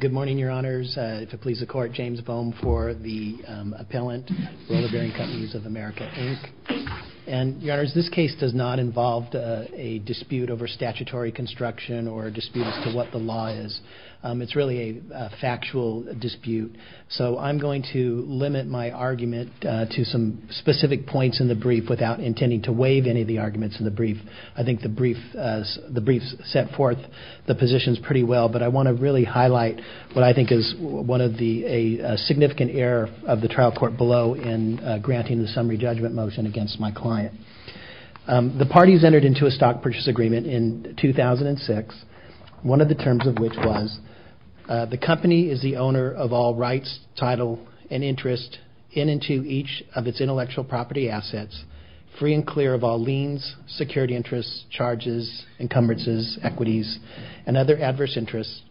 Good morning, your honors. If it pleases the court, James Boehm for the appellant, Roller Bearing Companies of America, Inc. And, your honors, this case does not involve a dispute over statutory construction or a dispute as to what the law is. It's really a factual dispute. So I'm going to limit my argument to some specific points in the brief without intending to waive any of the arguments in the brief. I think the brief set forth the positions pretty well, but I want to really highlight what I think is a significant error of the trial court below in granting the summary judgment motion against my client. The parties entered into a stock purchase agreement in 2006, one of the terms of which was, the company is the owner of all rights, title, and interest in and to each of its intellectual property assets, free and clear of all liens, security interests, charges, encumbrances, equities, and other adverse interests,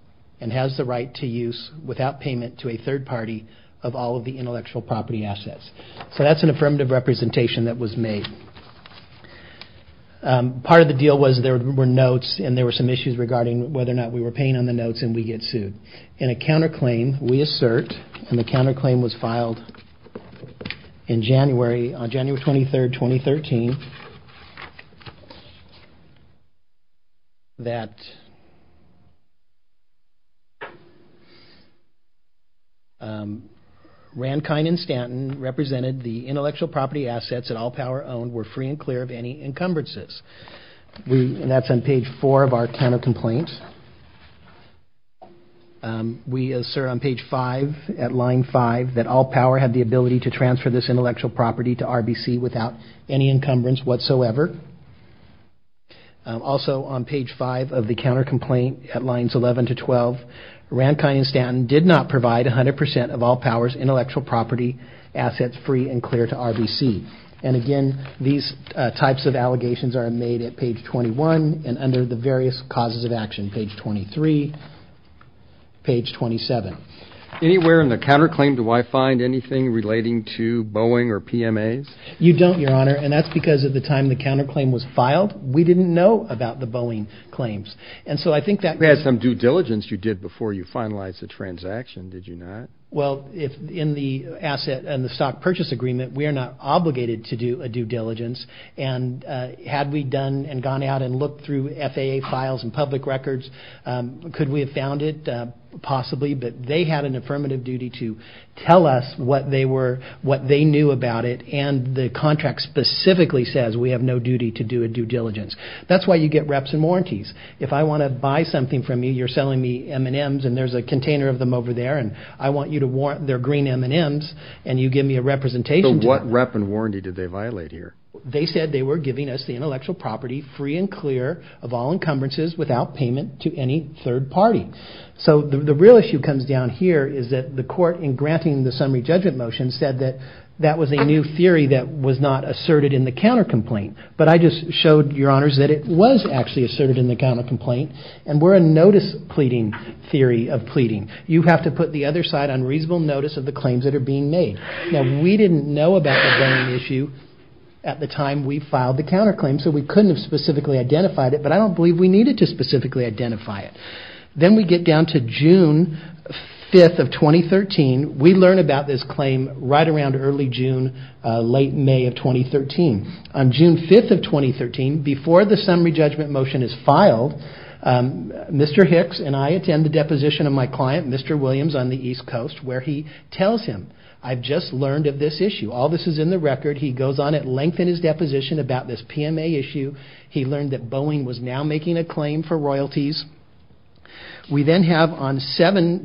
and has the right to use without payment to a third party of all of the intellectual property assets. So that's an affirmative representation that was made. Part of the deal was there were notes and there were some issues regarding whether or not we were paying on the notes and we get sued. In a counter claim, we assert, and the counter claim was filed in January, on January 23rd, 2013, that Rankine and Stanton represented the intellectual property assets that All Power owned were free and clear of any encumbrances. That's on page 4 of our counter complaint. We assert on page 5 at line 5 that All Power had the ability to transfer this intellectual property to Rankine and Stanton without any allegations whatsoever. Also on page 5 of the counter complaint at lines 11 to 12, Rankine and Stanton did not provide 100% of All Power's intellectual property assets free and clear to RBC. And again, these types of allegations are made at page 21 and under the various causes of action, page 23, page 27. Anywhere in the counter claim do I find anything relating to Boeing or PMAs? You don't, Your Honor, and that's because at the time the counter claim was filed, we didn't know about the Boeing claims. And so I think that... You had some due diligence you did before you finalized the transaction, did you not? Well, in the asset and the stock purchase agreement, we are not obligated to do a due diligence, and had we done and gone out and looked through FAA files and public records, could we have found it? Possibly, but they had an affirmative duty to tell us what they knew about it, and the contract specifically says we have no duty to do a due diligence. That's why you get reps and warranties. If I want to buy something from you, you're selling me M&Ms, and there's a container of them over there, and I want you to warrant their green M&Ms, and you give me a representation. So what rep and warranty did they violate here? They said they were giving us the intellectual property free and clear of all encumbrances without payment to any third party. So the real issue comes down here, is that the court, in granting the summary judgment motion, said that that was a new theory that was not asserted in the counter complaint. But I just showed your honors that it was actually asserted in the counter complaint, and we're a notice pleading theory of pleading. You have to put the other side on reasonable notice of the claims that are being made. Now, we didn't know about the banning issue at the time we filed the counter claim, so we couldn't have specifically identified it, but I don't believe we needed to specifically identify it. Then we get down to June 5th of 2013. We learn about this claim right around early June, late May of 2013. On June 5th of 2013, before the summary judgment motion is filed, Mr. Hicks and I attend the deposition of my client, Mr. Williams on the East Coast, where he tells him I've just learned of this issue. All this is in the record. He goes on and lengthens his deposition about this PMA issue. He learned that Boeing was now making a claim for royalties. We then have on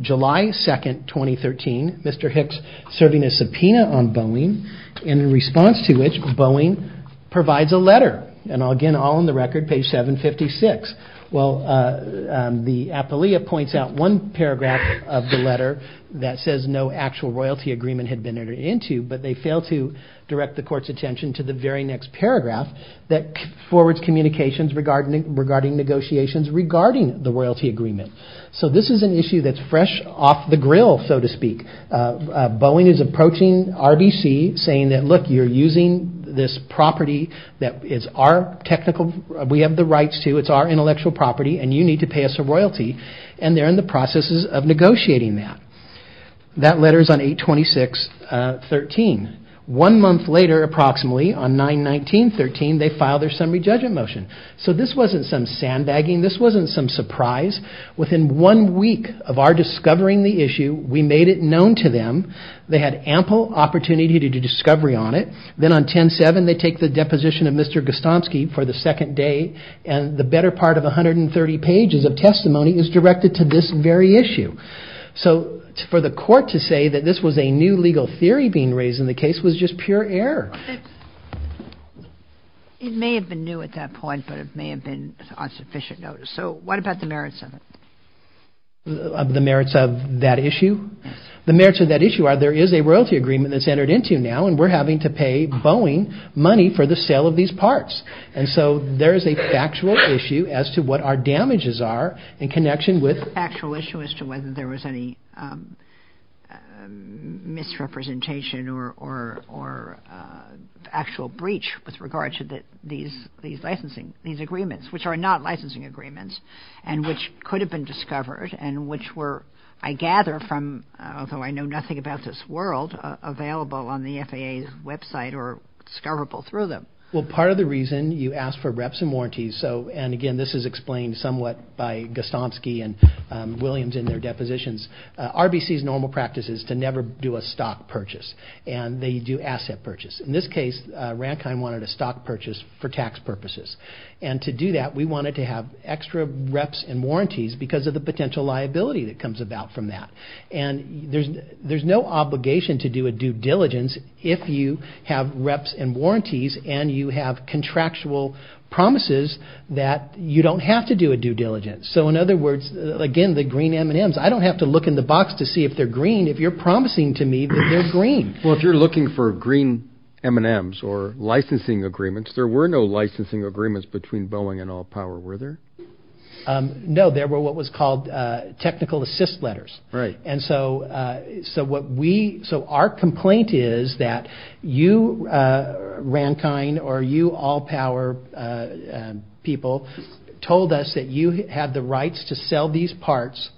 July 2nd, 2013, Mr. Hicks serving a subpoena on Boeing, in response to which Boeing provides a letter. Again, all in the record, page 756. The appealee points out one paragraph of the letter that says no actual royalty agreement had been entered into, but they fail to direct the court's attention to the very next paragraph that forwards communications regarding negotiations regarding the royalty agreement. So this is an issue that's fresh off the grill, so to speak. Boeing is approaching RBC saying that, look, you're using this property that is our technical, we have the rights to, it's our intellectual property, and you need to pay us a royalty, and they're in the processes of negotiating that. That letter is on 8-26-13. One month later, approximately, on 9-19-13, they file their summary judgment motion. So this wasn't some sandbagging, this wasn't some surprise. Within one week of our discovering the issue, we made it known to them. They had ample opportunity to do discovery on it. Then on 10-7, they take the deposition of Mr. Gostomsky for the second day, and the better part of 130 pages of testimony is directed to this very issue. So for the court to say that this was a new legal theory being raised in the case was just pure error. It may have been new at that point, but it may have been on sufficient notice. So what about the merits of it? The merits of that issue? The merits of that issue are there is a royalty agreement that's entered into now, and we're having to pay Boeing money for the sale of these parts. And so there is a factual issue as to what our damages are in connection with... Factual issue as to whether there was any misrepresentation or actual breach with regard to these agreements, which are not licensing agreements and which could have been discovered and which were, I gather, from although I know nothing about this world, available on the FAA's website or discoverable through them. Well, part of the reason you asked for reps and warranties, and again this is explained somewhat by Gostomsky and Williams in their depositions, RBC's normal practice is to never do a stock purchase, and they do asset purchase. In this case, Rankine wanted a stock purchase for tax purposes. And to do that, we wanted to have extra reps and warranties because of the potential liability that comes about from that. And there's no obligation to do a due diligence if you have reps and warranties and you have contractual promises that you don't have to do a due diligence. So in other words, again, the green M&Ms, I don't have to look in the box to see if they're green if you're promising to me that they're green. Well, if you're looking for green M&Ms or licensing agreements, there were no licensing agreements between Boeing and All Power, were there? No, there were what was called technical assist letters. So our complaint is that you, Rankine, or you All Power people, told us that you had the rights to sell these parts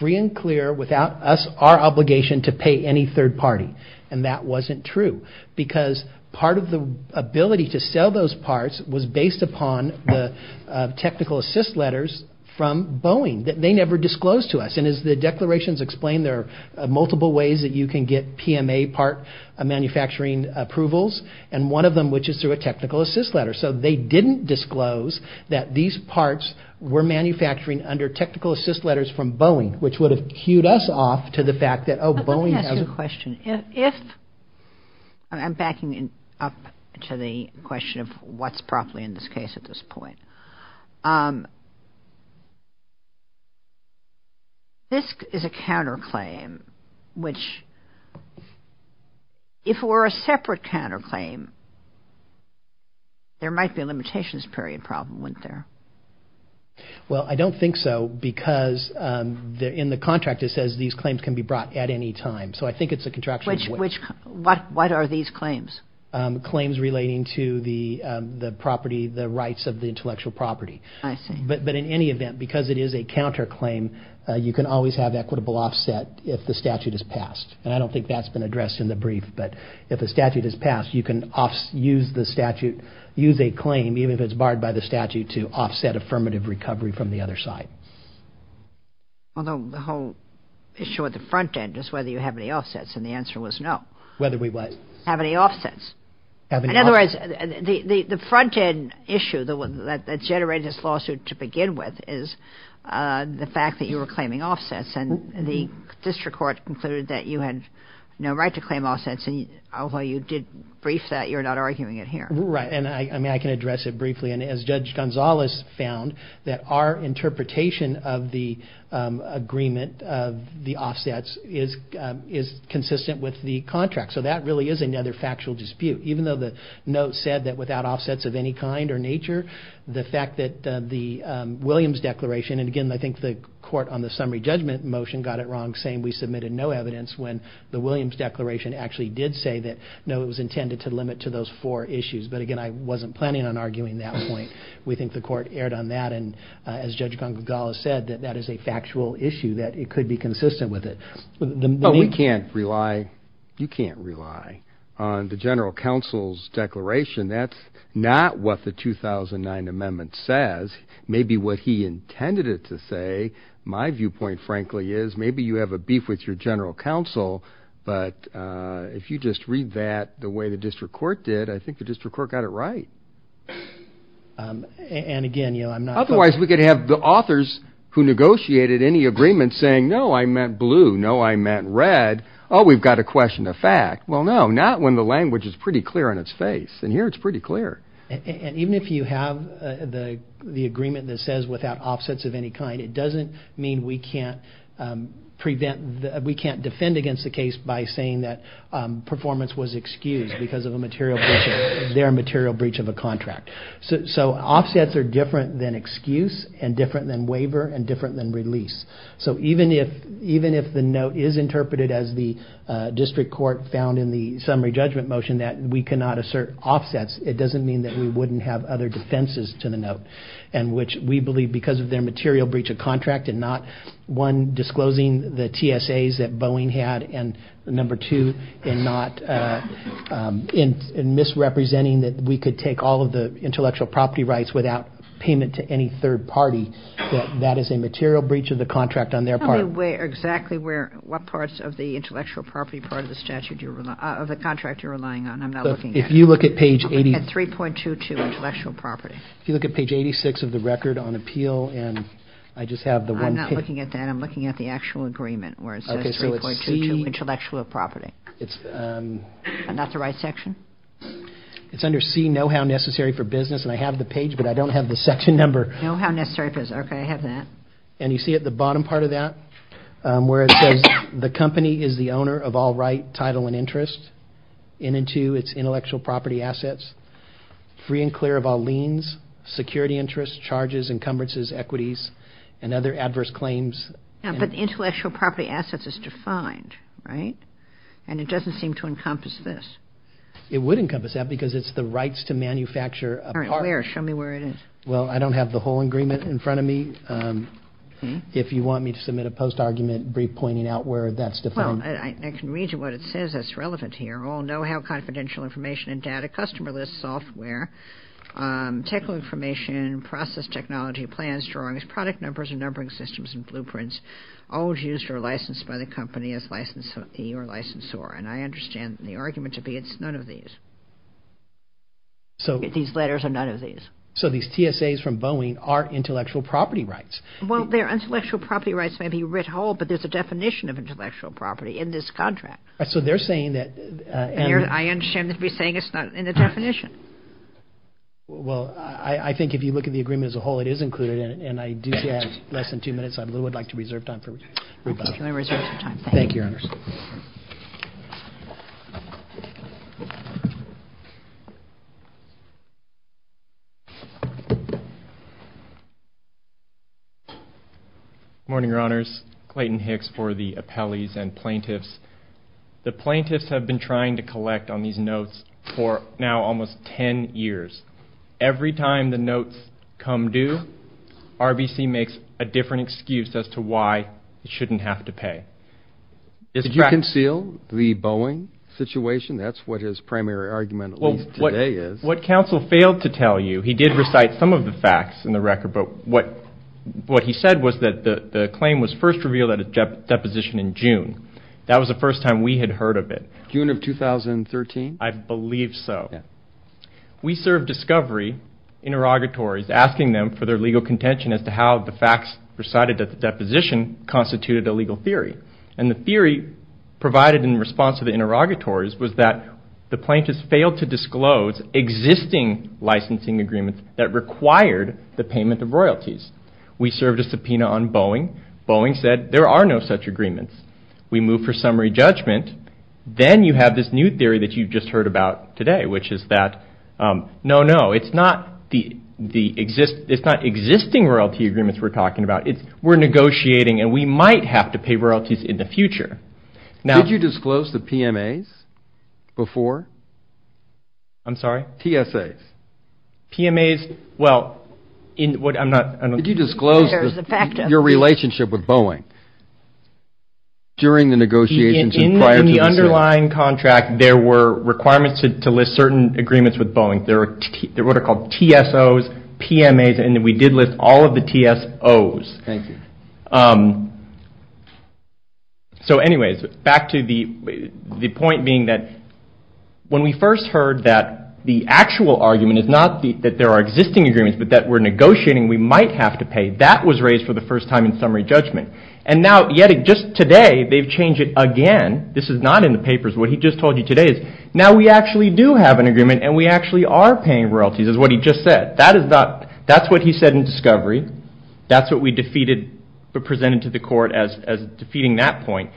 free and clear without us, our obligation to pay any third party. And that wasn't true because part of the ability to sell those parts was based upon the technical assist letters from Boeing that they never disclosed to us. And as the declarations explain, there are multiple ways that you can get PMA part manufacturing approvals, and one of them, which is through a technical assist letter. So they didn't disclose that these parts were manufacturing under technical assist letters from Boeing, which would have cued us off to the fact that, oh, Boeing has a... I'm backing up to the question of what's properly in this case at this point. This is a counterclaim which, if it were a separate counterclaim, there might be a limitations period problem, wouldn't there? Well, I don't think so because in the contract it says these claims can be brought at any time. So I think it's a contraction of which. What are these claims? Claims relating to the property, the rights of the intellectual property. But in any event, because it is a counterclaim, you can always have equitable offset if the statute is passed. And I don't think that's been addressed in the brief, but if the statute is passed, you can use the statute, use a claim, even if it's barred by the statute, to offset affirmative recovery from the other side. Although the whole issue at the front end is whether you have any offsets, and the answer was no. Whether we what? Have any offsets. In other words, the front end issue that generated this lawsuit to begin with is the fact that you were claiming offsets, and the district court concluded that you had no right to claim offsets, although you did brief that, you're not arguing it here. Right, and I can address it briefly, and as Judge Gonzalez found, that our interpretation of the agreement of the offsets is consistent with the contract. So that really is another factual dispute. Even though the note said that without offsets of any kind or nature, the fact that the Williams Declaration, and again I think the court on the summary judgment motion got it wrong saying we submitted no evidence when the Williams Declaration actually did say that no, it was intended to limit to those four issues. But again, I wasn't planning on arguing that point. We think the court erred on that, and as Judge Gonzalez said, that that is a factual issue, that it could be consistent with it. But we can't rely, you can't rely on the general counsel's declaration. That's not what the 2009 amendment says. Maybe what he intended it to say, my viewpoint frankly is, maybe you have a beef with your general counsel, but if you just read that the way the district court did, I think the district court got it right. Otherwise we could have the authors who negotiated any agreement saying, no I meant blue, no I meant red, oh we've got to question the fact. Well no, not when the language is pretty clear on its face. And here it's pretty clear. And even if you have the agreement that says without offsets of any kind, it doesn't mean we can't defend against the case by saying that performance was excused because of their material breach of a contract. So offsets are different than excuse, and different than waiver, and different than release. So even if the note is interpreted as the district court found in the summary judgment motion that we cannot assert offsets, it doesn't mean that we wouldn't have other defenses to the note. And which we believe because of their material breach of contract and not one disclosing the TSAs that Boeing had, and number two in not, in misrepresenting that we could take all of the intellectual property rights without payment to any third party that that is a material breach of the contract on their part. What parts of the intellectual property part of the statute, of the contract you're relying on, I'm not looking at. At 3.22 intellectual property. If you look at page 86 of the record on appeal, and I just have the one page. I'm not looking at that, I'm looking at the actual agreement where it says 3.22 intellectual property. And that's the right section? It's under C, know how necessary for business, and I have the page but I don't have the section number. Know how necessary for business, okay I have that. And you see at the bottom part of that, where it says the company is the owner of all right title and interest, in and to its intellectual property assets, free and clear of all liens, security interests, charges, encumbrances, equities, and other adverse claims. But intellectual property assets is defined, right? And it doesn't seem to encompass this. It would encompass that because it's the rights to manufacture a part. All right, where? Show me where it is. Well, I don't have the whole agreement in front of me. If you want me to submit a post argument brief pointing out where that's defined. Well, I can read you what it says that's relevant here. All know how confidential information and data, customer list software, technical information, process technology, plans, drawings, product numbers, and numbering systems, and blueprints, all used or licensed by the company as licensee or licensor. And I understand the argument to be it's none of these. These letters are none of these. So these TSAs from Boeing are intellectual property rights. Well, their intellectual property rights may be writ whole, but there's a definition of intellectual property in this contract. So they're saying that. I understand that you're saying it's not in the definition. Well, I think if you look at the agreement as a whole, it is included in it. And I do have less than two minutes. I would like to reserve time for rebuttal. Thank you, Your Honors. Good morning, Your Honors. Clayton Hicks for the appellees and plaintiffs. The plaintiffs have been trying to collect on these notes for now almost ten years. Every time the notes come due, RBC makes a different excuse as to why it shouldn't have to pay. Did you conceal the Boeing situation? That's what his primary argument at least today is. What counsel failed to tell you, he did recite some of the facts in the record, but what he said was that the claim was first revealed at a deposition in June. That was the first time we had heard of it. June of 2013? I believe so. We served discovery interrogatories asking them for their legal contention as to how the facts recited at the deposition constituted a legal theory. And the theory provided in response to the interrogatories was that the plaintiffs failed to disclose existing licensing agreements that required the payment of royalties. We served a subpoena on Boeing. Boeing said there are no such agreements. We move for summary judgment. Then you have this new theory that you've just heard about today, which is that no, no, it's not the existing royalty agreements we're talking about. We're negotiating and we might have to pay royalties in the future. Did you disclose the PMAs before? I'm sorry? TSAs. PMAs? Well, I'm not... Did you disclose your relationship with Boeing during the negotiations? In the underlying contract, there were requirements to list certain agreements with Boeing. There were what are called TSOs, PMAs, and we did list all of the TSOs. Thank you. So anyways, back to the point being that when we first heard that the actual argument is not that there are existing agreements, but that we're negotiating we might have to pay, that was raised for the first time in summary judgment. And now, yet just today they've changed it again. This is not in the papers. What he just told you today is now we actually do have an agreement and we actually are paying royalties is what he just said. That's what he said in discovery. That's what we defeated but presented to the court as defeating that point.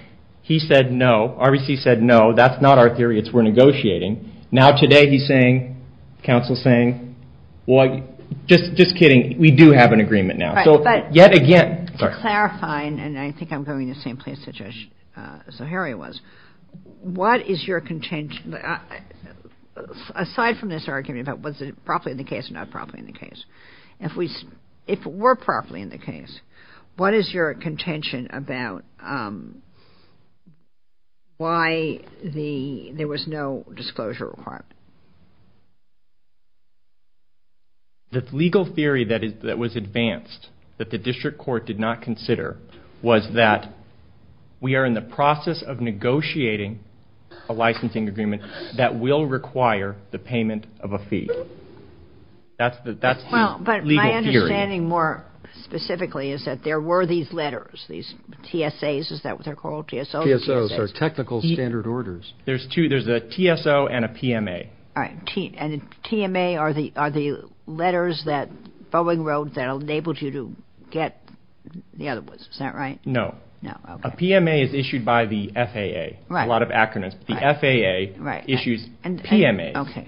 He said no. RBC said no. That's not our theory. It's we're negotiating. Now today he's saying, counsel's saying, just kidding, we do have an agreement now. So yet again It's clarifying and I think I'm going in the same place that Zaharia was. What is your contention, aside from this argument about was it properly in the case or not properly in the case, if it were properly in the case, what is your contention about why there was no disclosure requirement? The legal theory that was advanced that the district court did not consider was that we are in the process of negotiating a licensing agreement that will require the payment of a fee. That's the legal theory. My understanding more specifically is that there were these letters, these TSAs is that what they're called? TSOs. TSOs are technical standard orders. There's a TSO and a PMA. TMA are the letters that Boeing wrote that enabled you to get the other ones. Is that right? No. A PMA is issued by the FAA. A lot of acronyms. The FAA issues PMAs.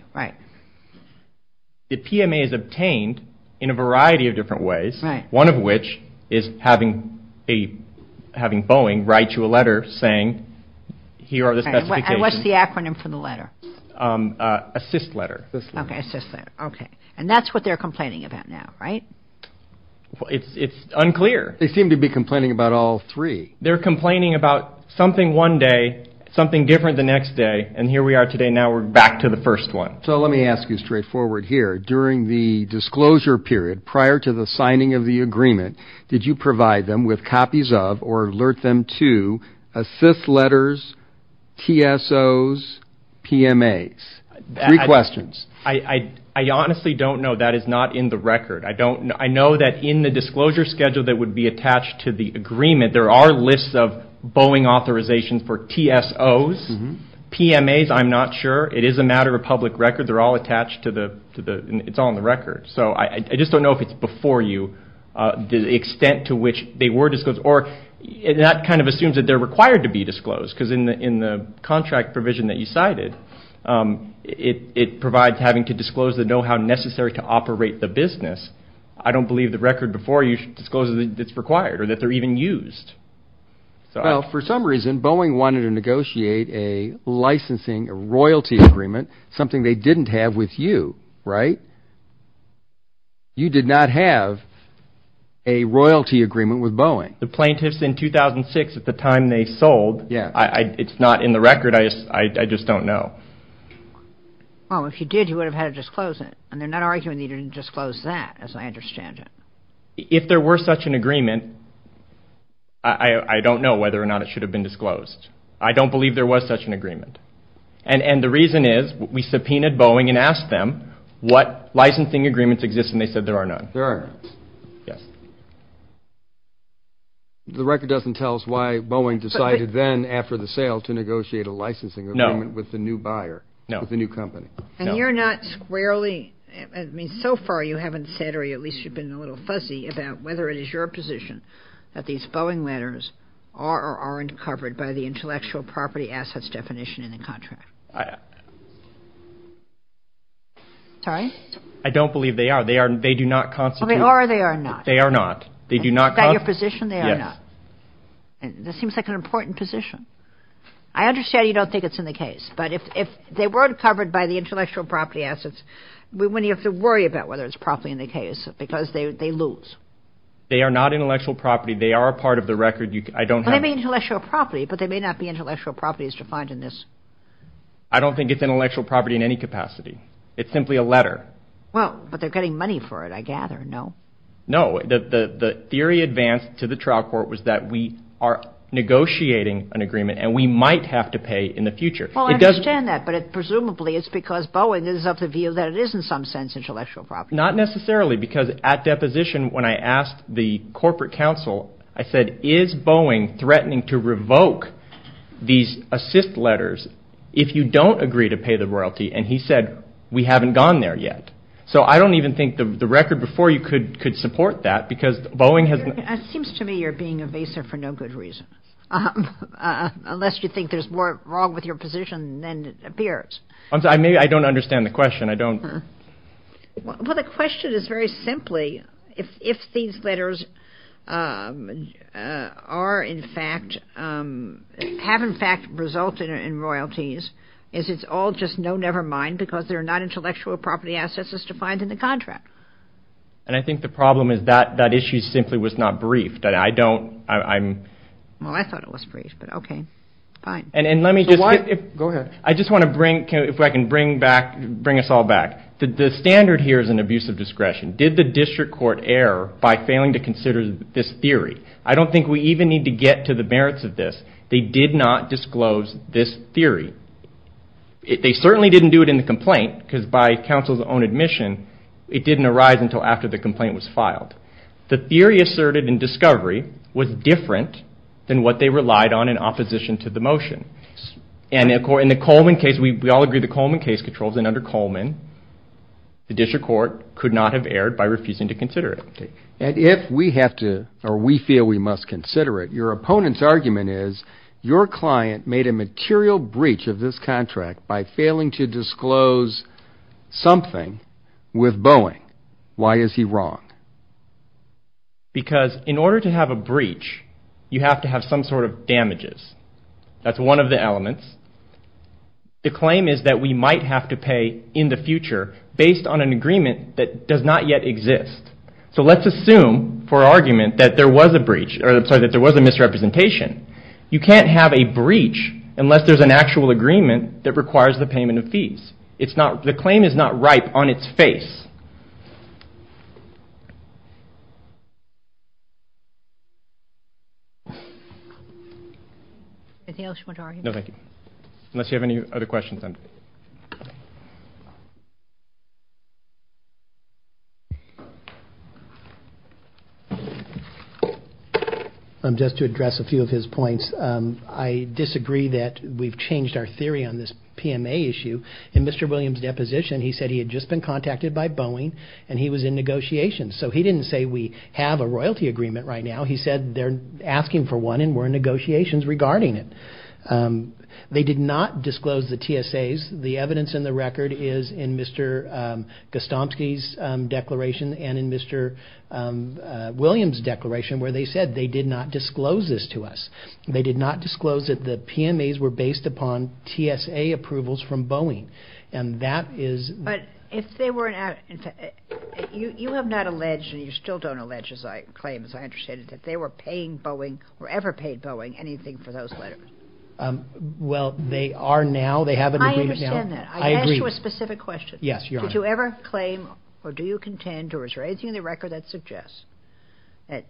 The PMA is obtained in a variety of different ways, one of which is having Boeing write you a letter saying here are the specifications. And what's the acronym for the letter? ASSIST letter. And that's what they're complaining about now, right? It's unclear. They seem to be complaining about all three. They're complaining about something one day, something different the next day, and here we are today, now we're back to the first one. So let me ask you straightforward here. During the disclosure period, prior to the signing of the agreement, did you provide them with copies of or alert them to ASSIST letters, TSOs, PMAs? Three questions. I honestly don't know. That is not in the record. I know that in the disclosure schedule that would be attached to the agreement, there are lists of Boeing authorizations for TSOs. PMAs, I'm not sure. It is a matter of public record. They're all attached to the...it's all in the record. So I just don't know if it's before you, the extent to which they are required to be disclosed, because in the contract provision that you cited, it provides having to disclose to know how necessary to operate the business. I don't believe the record before you discloses that it's required or that they're even used. Well, for some reason, Boeing wanted to negotiate a licensing, a royalty agreement, something they didn't have with you, right? You did not have a royalty agreement with Boeing. The plaintiffs in 2006, at the time they sold, it's not in the record. I just don't know. Well, if you did, you would have had to disclose it. And they're not arguing that you didn't disclose that, as I understand it. If there were such an agreement, I don't know whether or not it should have been disclosed. I don't believe there was such an agreement. And the reason is, we subpoenaed Boeing and asked them what licensing agreements exist, and they said there are none. There are none. The record doesn't tell us why Boeing decided then, after the sale, to negotiate a licensing agreement with the new buyer, with the new company. So far, you haven't said, or at least you've been a little fuzzy about whether it is your position that these Boeing letters are or aren't covered by the intellectual property assets definition in the contract. Sorry? I don't believe they are. They do not constitute. They are or they are not? They are not. Is that your position? They are not. That seems like an important position. I understand you don't think it's in the case. But if they weren't covered by the intellectual property assets, wouldn't you have to worry about whether it's properly in the case? Because they lose. They are not intellectual property. They are a part of the record. But they may not be intellectual properties defined in this. I don't think it's intellectual property in any capacity. It's simply a letter. Well, but they're getting money for it, I gather, no? No. The theory advanced to the trial court was that we are negotiating an agreement and we might have to pay in the future. Well, I understand that, but presumably it's because Boeing is of the view that it is, in some sense, intellectual property. Not necessarily, because at deposition, when I asked the corporate counsel, I said, is Boeing threatening to revoke these assist letters if you don't agree to pay the royalty? And he said, we haven't gone there yet. So I don't even think the record before you could support that, because Boeing has... It seems to me you're being evasive for no good reason. Unless you think there's more wrong with your position than appears. I'm sorry, maybe I don't understand the question. Well, the question is very simply, if these letters are, in fact, have, in fact, resulted in royalties, is it all just, no, never mind, because they're not intellectual property assets as defined in the contract? And I think the problem is that that issue simply was not briefed. Well, I thought it was briefed, but okay, fine. I just want to bring, if I can bring back, bring us all back, the standard here is an abuse of discretion. Did the district court err by failing to consider this theory? I don't think we even need to get to the merits of this. They did not disclose this theory. They certainly didn't do it in the complaint, because by counsel's own admission, it didn't arise until after the complaint was filed. The theory asserted in discovery was different than what they relied on in opposition to the motion. And in the Coleman case, we all agree the Coleman case controls, and under Coleman, the district court could not have erred by refusing to consider it. And if we have to, or we feel we must consider it, your opponent's argument is your client made a material breach of this contract by failing to disclose something with Boeing. Why is he wrong? Because in order to have a breach, you have to have some sort of damages. That's one of the elements. The claim is that we might have to pay in the future based on an agreement that does not yet exist. So let's assume for argument that there was a breach, or I'm sorry, that there was a misrepresentation. You can't have a breach unless there's an actual agreement that requires the payment of fees. The claim is not ripe on its face. Anything else you want to argue? No, thank you. Unless you have any other questions. Just to address a few of his points, I disagree that we've changed our theory on this PMA issue. In Mr. Williams' deposition, he said he had just been contacted by Boeing and he was in negotiations. So he didn't say we have a royalty agreement right now. He said they're asking for one and we're in negotiations regarding it. They did not disclose the TSAs. The evidence in the record is in Mr. Gostomsky's declaration and in Mr. Williams' declaration where they said they did not disclose this to us. They did not disclose that the TSA approval is from Boeing. You have not alleged, and you still don't allege, as I understand it, that they were paying Boeing or ever paid Boeing anything for those letters. I ask you a specific question. Did you ever claim or do you contend or is there anything in the record that suggests that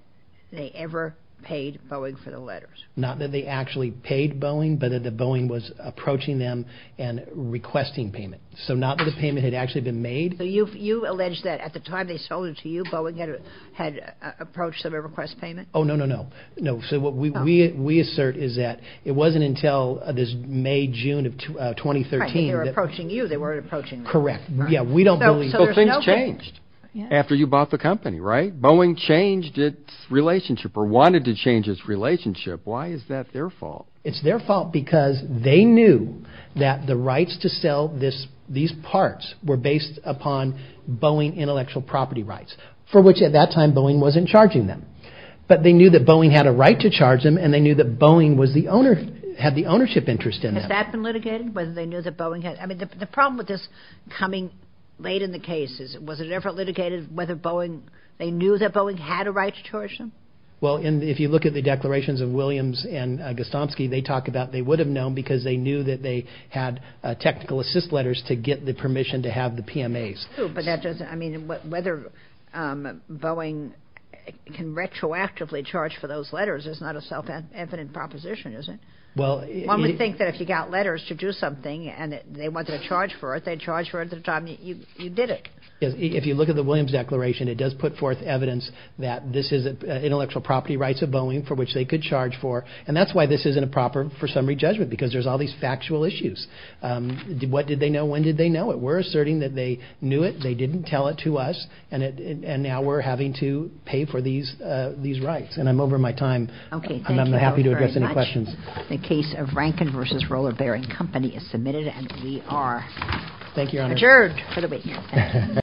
they ever paid Boeing for the letters? Not that they actually paid Boeing, but that Boeing was approaching them and requesting payment. So not that the payment had actually been made. So you allege that at the time they sold it to you, Boeing had approached them to request payment? Oh, no, no, no. So what we assert is that it wasn't until this May, June of 2013. They were approaching you, they weren't approaching them. Correct. Things changed after you bought the company, right? Boeing changed its relationship or wanted to change its relationship. Why is that their fault? It's their fault because they knew that the rights to sell these parts were based upon Boeing intellectual property rights for which at that time Boeing wasn't charging them. But they knew that Boeing had a right to charge them and they knew that Boeing had the ownership interest in them. Has that been litigated? The problem with this coming late in the case, was it ever litigated whether they knew that Well, if you look at the declarations of Williams and Gostomsky, they talk about they would have known because they knew that they had technical assist letters to get the permission to have the PMAs. But that doesn't, I mean, whether Boeing can retroactively charge for those letters is not a self-evident proposition, is it? One would think that if you got letters to do something and they wanted to charge for it, they'd charge for it at the time you did it. If you look at the Williams declaration, it does put forth evidence that this is intellectual property rights of Boeing for which they could charge for and that's why this isn't a proper for summary judgment because there's all these factual issues What did they know? When did they know it? We're asserting that they knew it, they didn't tell it to us and now we're having to pay for these rights and I'm over my time. I'm happy to address any questions. The case of Rankin vs. Rollerbearing Company is submitted and we are adjourned for the week.